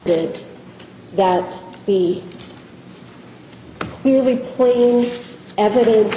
that the clearly plain evidence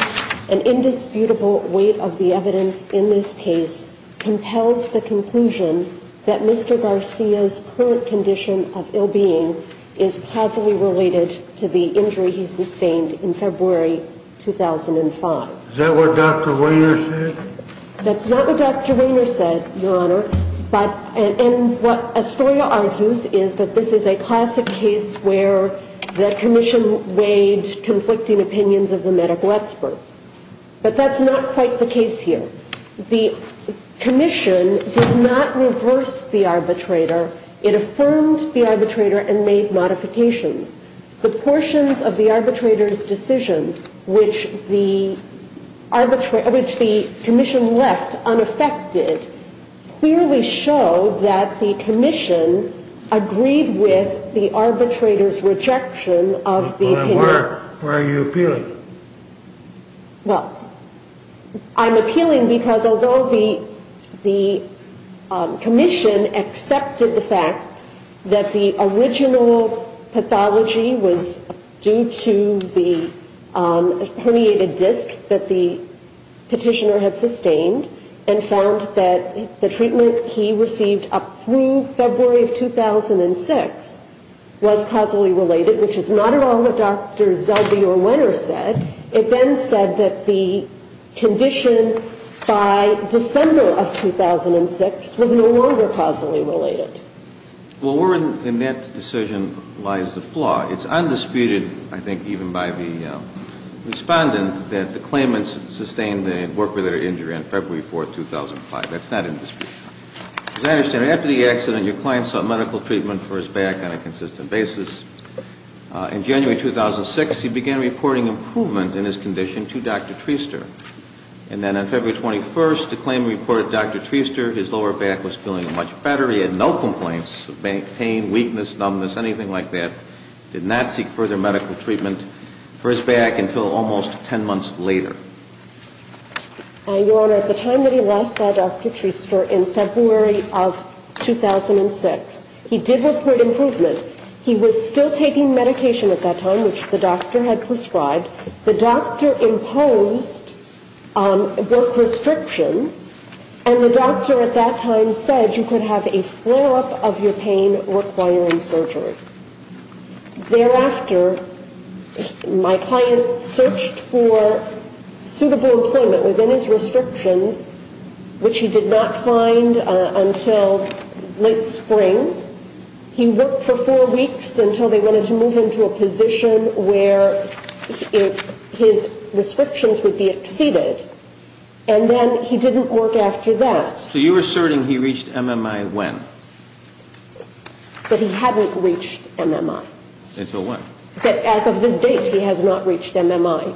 and indisputable weight of the evidence in this case compels the conclusion that Mr. Garcia's current condition of ill-being is possibly related to the injury he sustained in February 2005. Is that what Dr. Wehner said? That's not what Dr. Wehner said, Your Honor, and what Astoria argues is that this is a classic case where the Commission weighed conflicting opinions of the medical expert. But that's not quite the case here. The Commission did not reverse the arbitrator. It affirmed the arbitrator and made modifications. The portions of the arbitrator's decision which the Commission left unaffected clearly show that the Commission agreed with the arbitrator's rejection of the opinion. In other words, why are you appealing? It then said that the condition by December of 2006 was no longer possibly related. Well, Warren, in that decision lies the flaw. It's undisputed, I think, even by the Respondent, that the claimants sustained the worker-related injury on February 4, 2005. That's not indisputable. As I understand it, after the accident, your client sought medical treatment for his back on a consistent basis. In January 2006, he began reporting improvement in his condition to Dr. Treister. And then on February 21, the claimant reported to Dr. Treister his lower back was feeling much better. He had no complaints of pain, weakness, numbness, anything like that. Did not seek further medical treatment for his back until almost 10 months later. Your Honor, at the time that he last saw Dr. Treister, in February of 2006, he did report improvement. He was still taking medication at that time, which the doctor had prescribed. The doctor imposed work restrictions, and the doctor at that time said you could have a flare-up of your pain requiring surgery. Thereafter, my client searched for suitable employment within his restrictions, which he did not find until late spring. He worked for four weeks until they wanted to move him to a position where his restrictions would be exceeded. And then he didn't work after that. So you're asserting he reached MMI when? That he hadn't reached MMI. Until when? That as of this date, he has not reached MMI.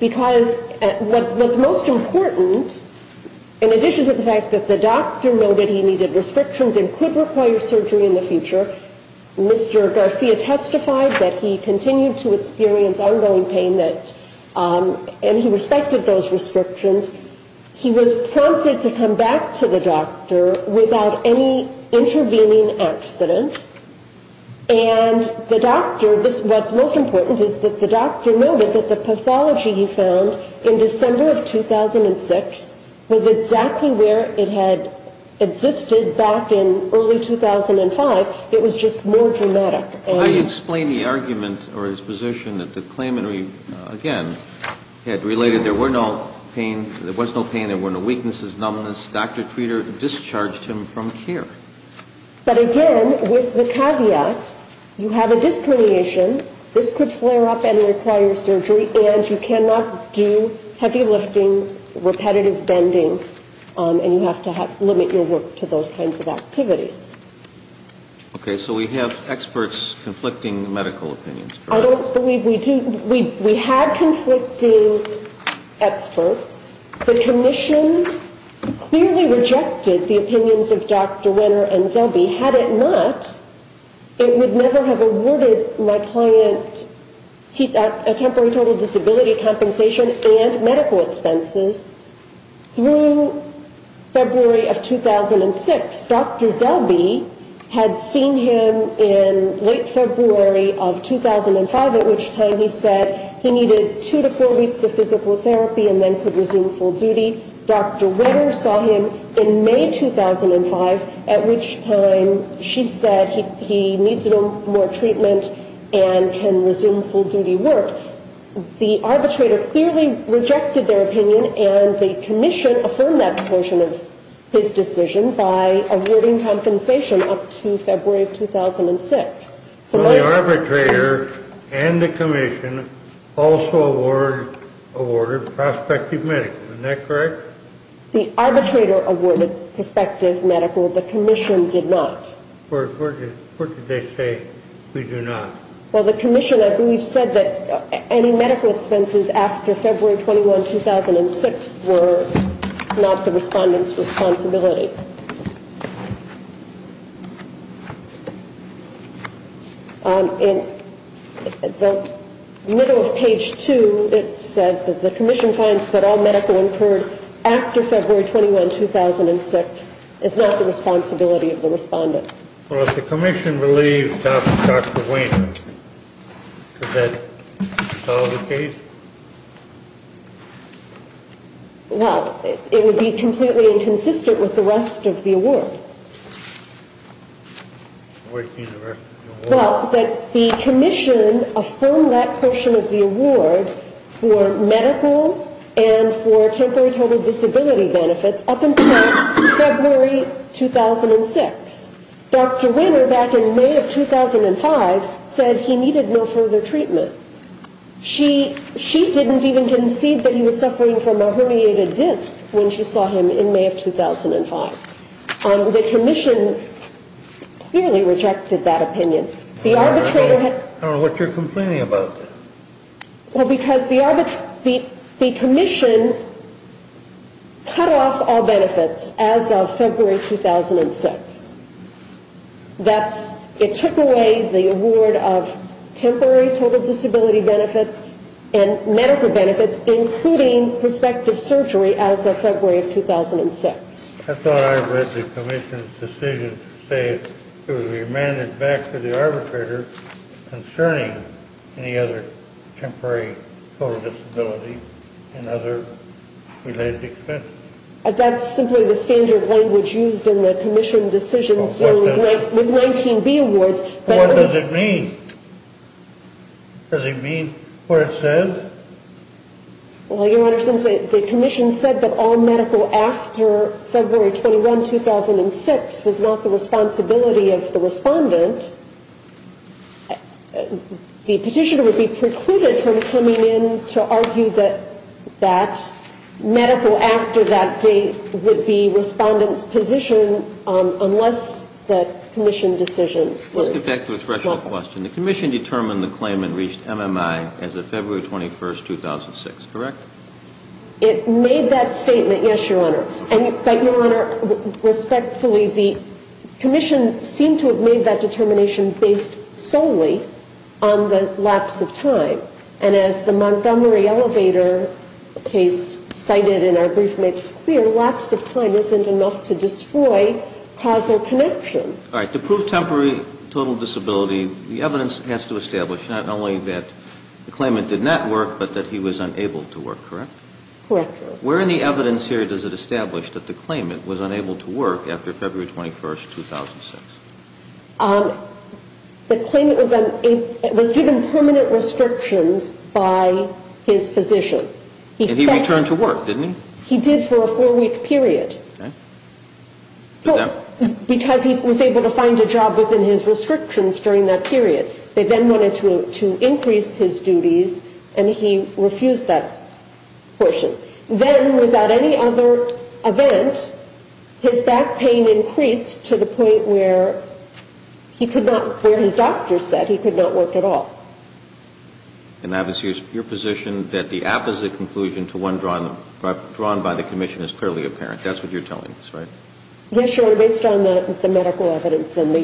Because what's most important, in addition to the fact that the doctor noted he needed restrictions and could require surgery in the future, Mr. Garcia testified that he continued to experience ongoing pain, and he respected those restrictions. He was prompted to come back to the doctor without any intervening accident. And the doctor, what's most important is that the doctor noted that the pathology he found in December of 2006 was exactly where it had existed back in early 2005. It was just more dramatic. How do you explain the argument or his position that the claimant, again, had related there was no pain, there were no weaknesses, numbness, Dr. Treater discharged him from care? But again, with the caveat, you have a disc herniation, this could flare up and require surgery, and you cannot do heavy lifting, repetitive bending, and you have to limit your work to those kinds of activities. Okay, so we have experts conflicting medical opinions. I don't believe we do. We had conflicting experts. The commission clearly rejected the opinions of Dr. Wenner and Zellbe. Had it not, it would never have awarded my client a temporary total disability compensation and medical expenses. Through February of 2006, Dr. Zellbe had seen him in late February of 2005, at which time he said he needed two to four weeks of physical therapy and then could resume full duty. Dr. Wenner saw him in May 2005, at which time she said he needs a little more treatment and can resume full duty work. The arbitrator clearly rejected their opinion, and the commission affirmed that portion of his decision by awarding compensation up to February of 2006. So the arbitrator and the commission also awarded prospective medical. Isn't that correct? The arbitrator awarded prospective medical. The commission did not. What did they say we do not? Well, the commission, I believe, said that any medical expenses after February 21, 2006 were not the respondent's responsibility. In the middle of page 2, it says that the commission finds that all medical incurred after February 21, 2006 is not the responsibility of the respondent. Well, if the commission believes Dr. Wenner, does that solve the case? Well, it would be completely inconsistent with the rest of the award. What do you mean the rest of the award? Well, that the commission affirmed that portion of the award for medical and for temporary total disability benefits up until February 2006. Dr. Wenner, back in May of 2005, said he needed no further treatment. She didn't even concede that he was suffering from a herniated disc when she saw him in May of 2005. The commission clearly rejected that opinion. I don't know what you're complaining about. Well, because the commission cut off all benefits as of February 2006. It took away the award of temporary total disability benefits and medical benefits, including prospective surgery, as of February 2006. I thought I read the commission's decision to say it was remanded back to the arbitrator concerning any other temporary total disability and other related expenses. That's simply the standard language used in the commission decisions dealing with 19B awards. What does it mean? Does it mean what it says? Well, Your Honor, since the commission said that all medical after February 21, 2006 was not the responsibility of the respondent, the petitioner would be precluded from coming in to argue that medical after that date would be respondent's position unless the commission decision was fulfilled. Let me get back to the threshold question. The commission determined the claimant reached MMI as of February 21, 2006, correct? It made that statement, yes, Your Honor. But, Your Honor, respectfully, the commission seemed to have made that determination based solely on the lapse of time. And as the Montgomery Elevator case cited in our brief makes clear, lapse of time isn't enough to destroy causal connection. All right. To prove temporary total disability, the evidence has to establish not only that the claimant did not work but that he was unable to work, correct? Correct, Your Honor. Where in the evidence here does it establish that the claimant was unable to work after February 21, 2006? The claimant was given permanent restrictions by his physician. And he returned to work, didn't he? He did for a four-week period. Okay. Because he was able to find a job within his restrictions during that period. They then wanted to increase his duties, and he refused that portion. Then, without any other event, his back pain increased to the point where he could not, where his doctor said he could not work at all. And that was your position, that the opposite conclusion to one drawn by the commission is clearly apparent. That's what you're telling us, right? Yes, Your Honor, based on the medical evidence and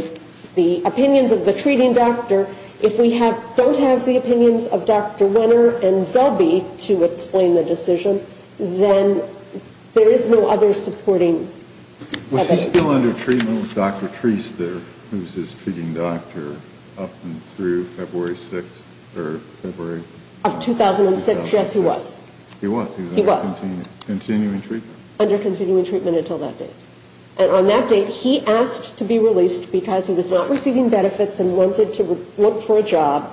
the opinions of the treating doctor, if we don't have the opinions of Dr. Wenner and Zellbe to explain the decision, then there is no other supporting evidence. Was he still under treatment with Dr. Treister, who was his treating doctor, up and through February 6 or February? Of 2006, yes, he was. He was? He was. Under continuing treatment? Under continuing treatment until that date. And on that date, he asked to be released because he was not receiving benefits and wanted to look for a job.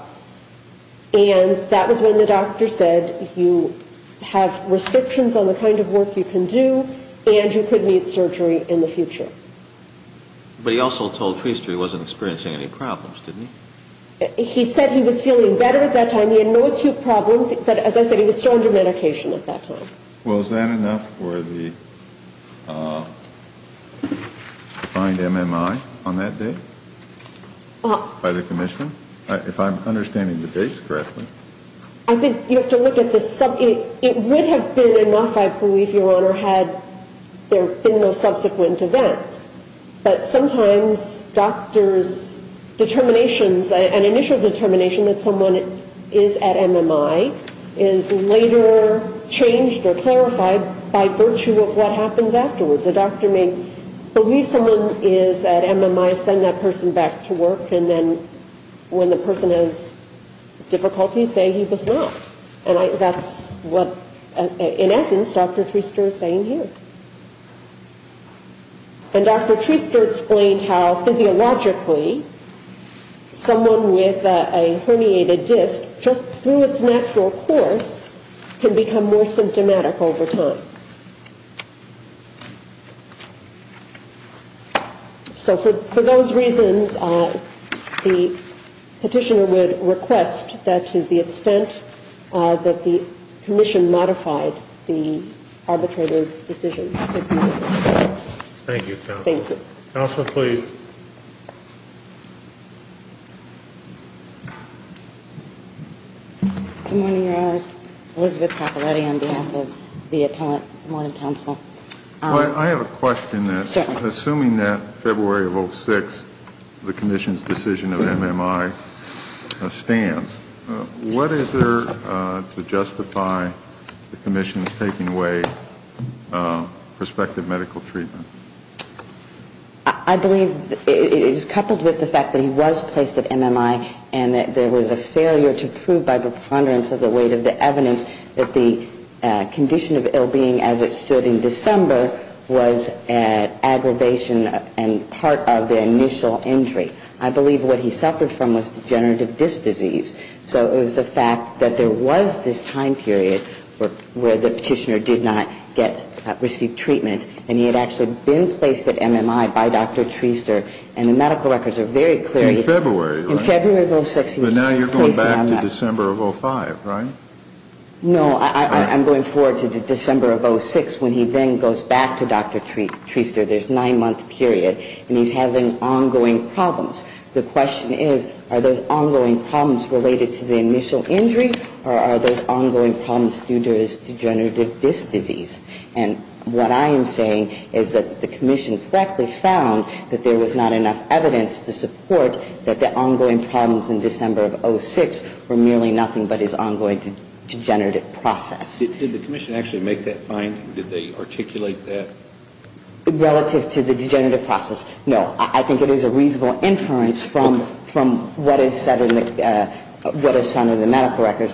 And that was when the doctor said, you have restrictions on the kind of work you can do, and you could need surgery in the future. But he also told Treister he wasn't experiencing any problems, didn't he? He said he was feeling better at that time. He had no acute problems, but as I said, he was still under medication at that time. Well, is that enough for the defined MMI on that date by the commission? If I'm understanding the dates correctly. I think you have to look at this. It would have been enough, I believe, Your Honor, had there been no subsequent events. But sometimes doctors' determinations, an initial determination that someone is at MMI, is later changed or clarified by virtue of what happens afterwards. A doctor may believe someone is at MMI, send that person back to work, and then when the person has difficulties, say he does not. And that's what, in essence, Dr. Treister is saying here. And Dr. Treister explained how physiologically, someone with a herniated disc, just through its natural course, can become more symptomatic over time. So for those reasons, the petitioner would request that to the extent that the commission modified the arbitrator's decision. Thank you, counsel. Counsel, please. Good morning, Your Honor. Elizabeth Caporetti on behalf of the appellant. Good morning, counsel. I have a question. Certainly. Assuming that February of 06, the commission's decision of MMI stands, what is there to justify the commission's taking away prospective medical treatment? I believe it is coupled with the fact that he was placed at MMI and that there was a failure to prove by preponderance of the weight of the evidence that the condition of ill being as it stood in December was an aggravation and part of the initial injury. I believe what he suffered from was degenerative disc disease. So it was the fact that there was this time period where the petitioner did not receive treatment and he had actually been placed at MMI by Dr. Treister and the medical records are very clear. In February, right? In February of 06, he was placed at MMI. But now you're going back to December of 05, right? No, I'm going forward to December of 06 when he then goes back to Dr. Treister. There's a nine-month period and he's having ongoing problems. The question is, are those ongoing problems related to the initial injury or are those ongoing problems due to his degenerative disc disease? And what I am saying is that the commission correctly found that there was not enough evidence to support that the ongoing problems in December of 06 were merely nothing but his ongoing degenerative process. Did the commission actually make that find? Did they articulate that? Relative to the degenerative process, no. I think it is a reasonable inference from what is said in the medical records.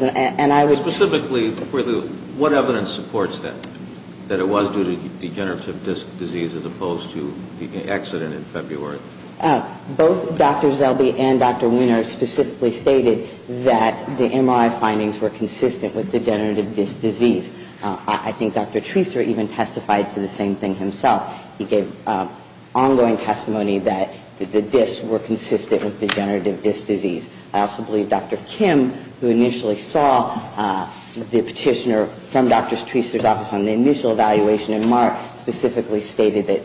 Specifically, what evidence supports that, that it was due to degenerative disc disease as opposed to the accident in February? Both Dr. Zellbe and Dr. Weiner specifically stated that the MRI findings were consistent with degenerative disc disease. I think Dr. Treister even testified to the same thing himself. He gave ongoing testimony that the discs were consistent with degenerative disc disease. I also believe Dr. Kim, who initially saw the petitioner from Dr. Treister's office on the initial evaluation in March, specifically stated that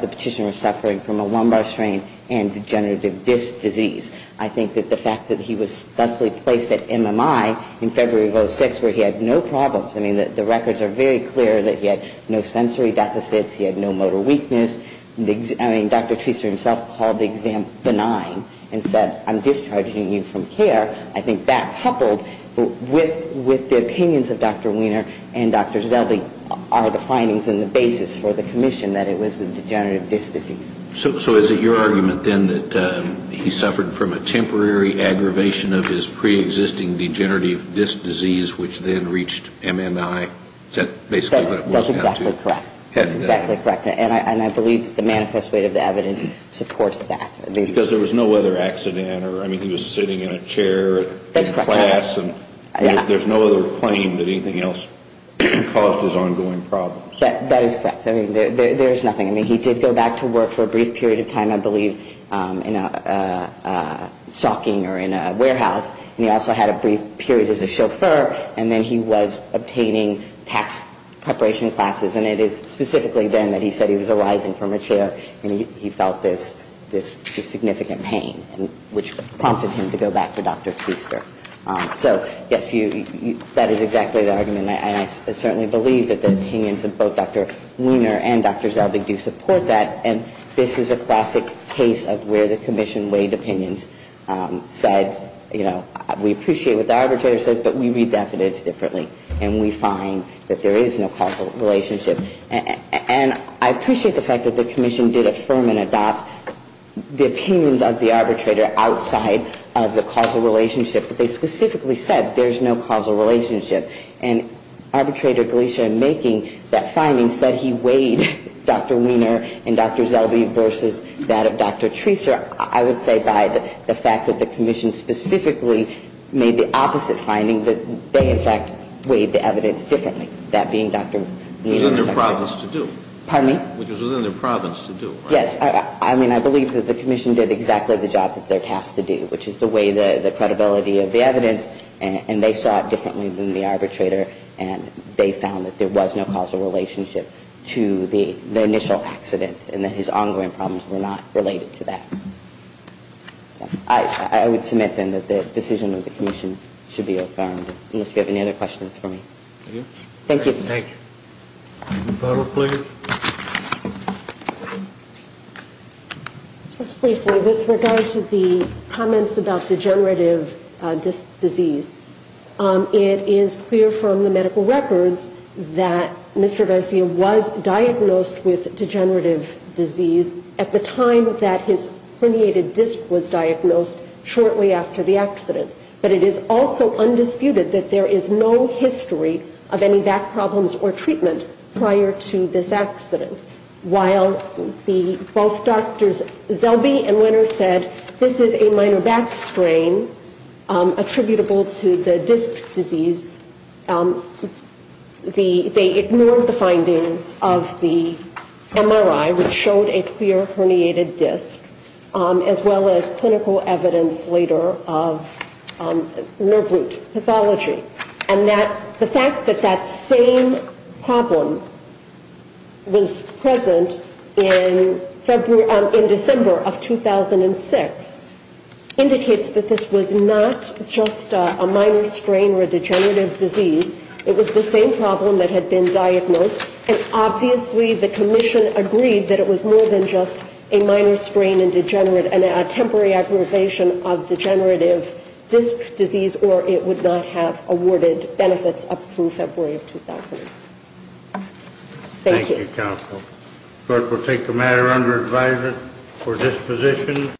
the petitioner was suffering from a lumbar strain and degenerative disc disease. I think that the fact that he was thusly placed at MMI in February of 06 where he had no problems, I mean, the records are very clear that he had no sensory deficits, he had no motor weakness. I mean, Dr. Treister himself called the exam benign and said, I'm discharging you from care. I think that coupled with the opinions of Dr. Weiner and Dr. Zellbe are the findings and the basis for the commission that it was a degenerative disc disease. So is it your argument then that he suffered from a temporary aggravation of his preexisting degenerative disc disease, which then reached MMI? Is that basically what it was down to? That's exactly correct. That's exactly correct. And I believe that the manifest weight of the evidence supports that. Because there was no other accident or, I mean, he was sitting in a chair in class. That's correct. There's no other claim that anything else caused his ongoing problems. That is correct. I mean, there's nothing. I mean, he did go back to work for a brief period of time, I believe, in a stocking or in a warehouse. And he also had a brief period as a chauffeur. And then he was obtaining tax preparation classes. And it is specifically then that he said he was arising from a chair and he felt this significant pain, which prompted him to go back to Dr. Treister. So, yes, that is exactly the argument. And I certainly believe that the opinions of both Dr. Weiner and Dr. Zellbe do support that. And this is a classic case of where the commission weighed opinions. Said, you know, we appreciate what the arbitrator says, but we read the evidence differently. And we find that there is no causal relationship. And I appreciate the fact that the commission did affirm and adopt the opinions of the arbitrator outside of the causal relationship. But they specifically said there's no causal relationship. And Arbitrator Glisha in making that finding said he weighed Dr. Weiner and Dr. Zellbe versus that of Dr. Treister. I would say by the fact that the commission specifically made the opposite finding, that they, in fact, weighed the evidence differently, that being Dr. Weiner and Dr. Zellbe. Which was within their province to do. Pardon me? Which was within their province to do. Yes. I mean, I believe that the commission did exactly the job that they're tasked to do, which is to weigh the credibility of the evidence. And they saw it differently than the arbitrator. And they found that there was no causal relationship to the initial accident. And that his ongoing problems were not related to that. I would submit, then, that the decision of the commission should be affirmed. Unless you have any other questions for me. Thank you. Thank you. The panel, please. Just briefly, with regard to the comments about degenerative disc disease, it is clear from the medical records that Mr. Garcia was diagnosed with degenerative disease at the time that his herniated disc was diagnosed, shortly after the accident. But it is also undisputed that there is no history of any back problems or treatment prior to this accident. While both Drs. Zellbe and Weiner said this is a minor back strain attributable to the disc disease, they ignored the findings of the MRI, which showed a clear herniated disc, as well as clinical evidence later of nerve root pathology. And the fact that that same problem was present in December of 2006 indicates that this was not just a minor strain or a degenerative disease. It was the same problem that had been diagnosed. And obviously the commission agreed that it was more than just a minor strain and a temporary aggravation of degenerative disc disease, or it would not have awarded benefits up through February of 2006. Thank you. Thank you, counsel. The court will take the matter under advisement for disposition.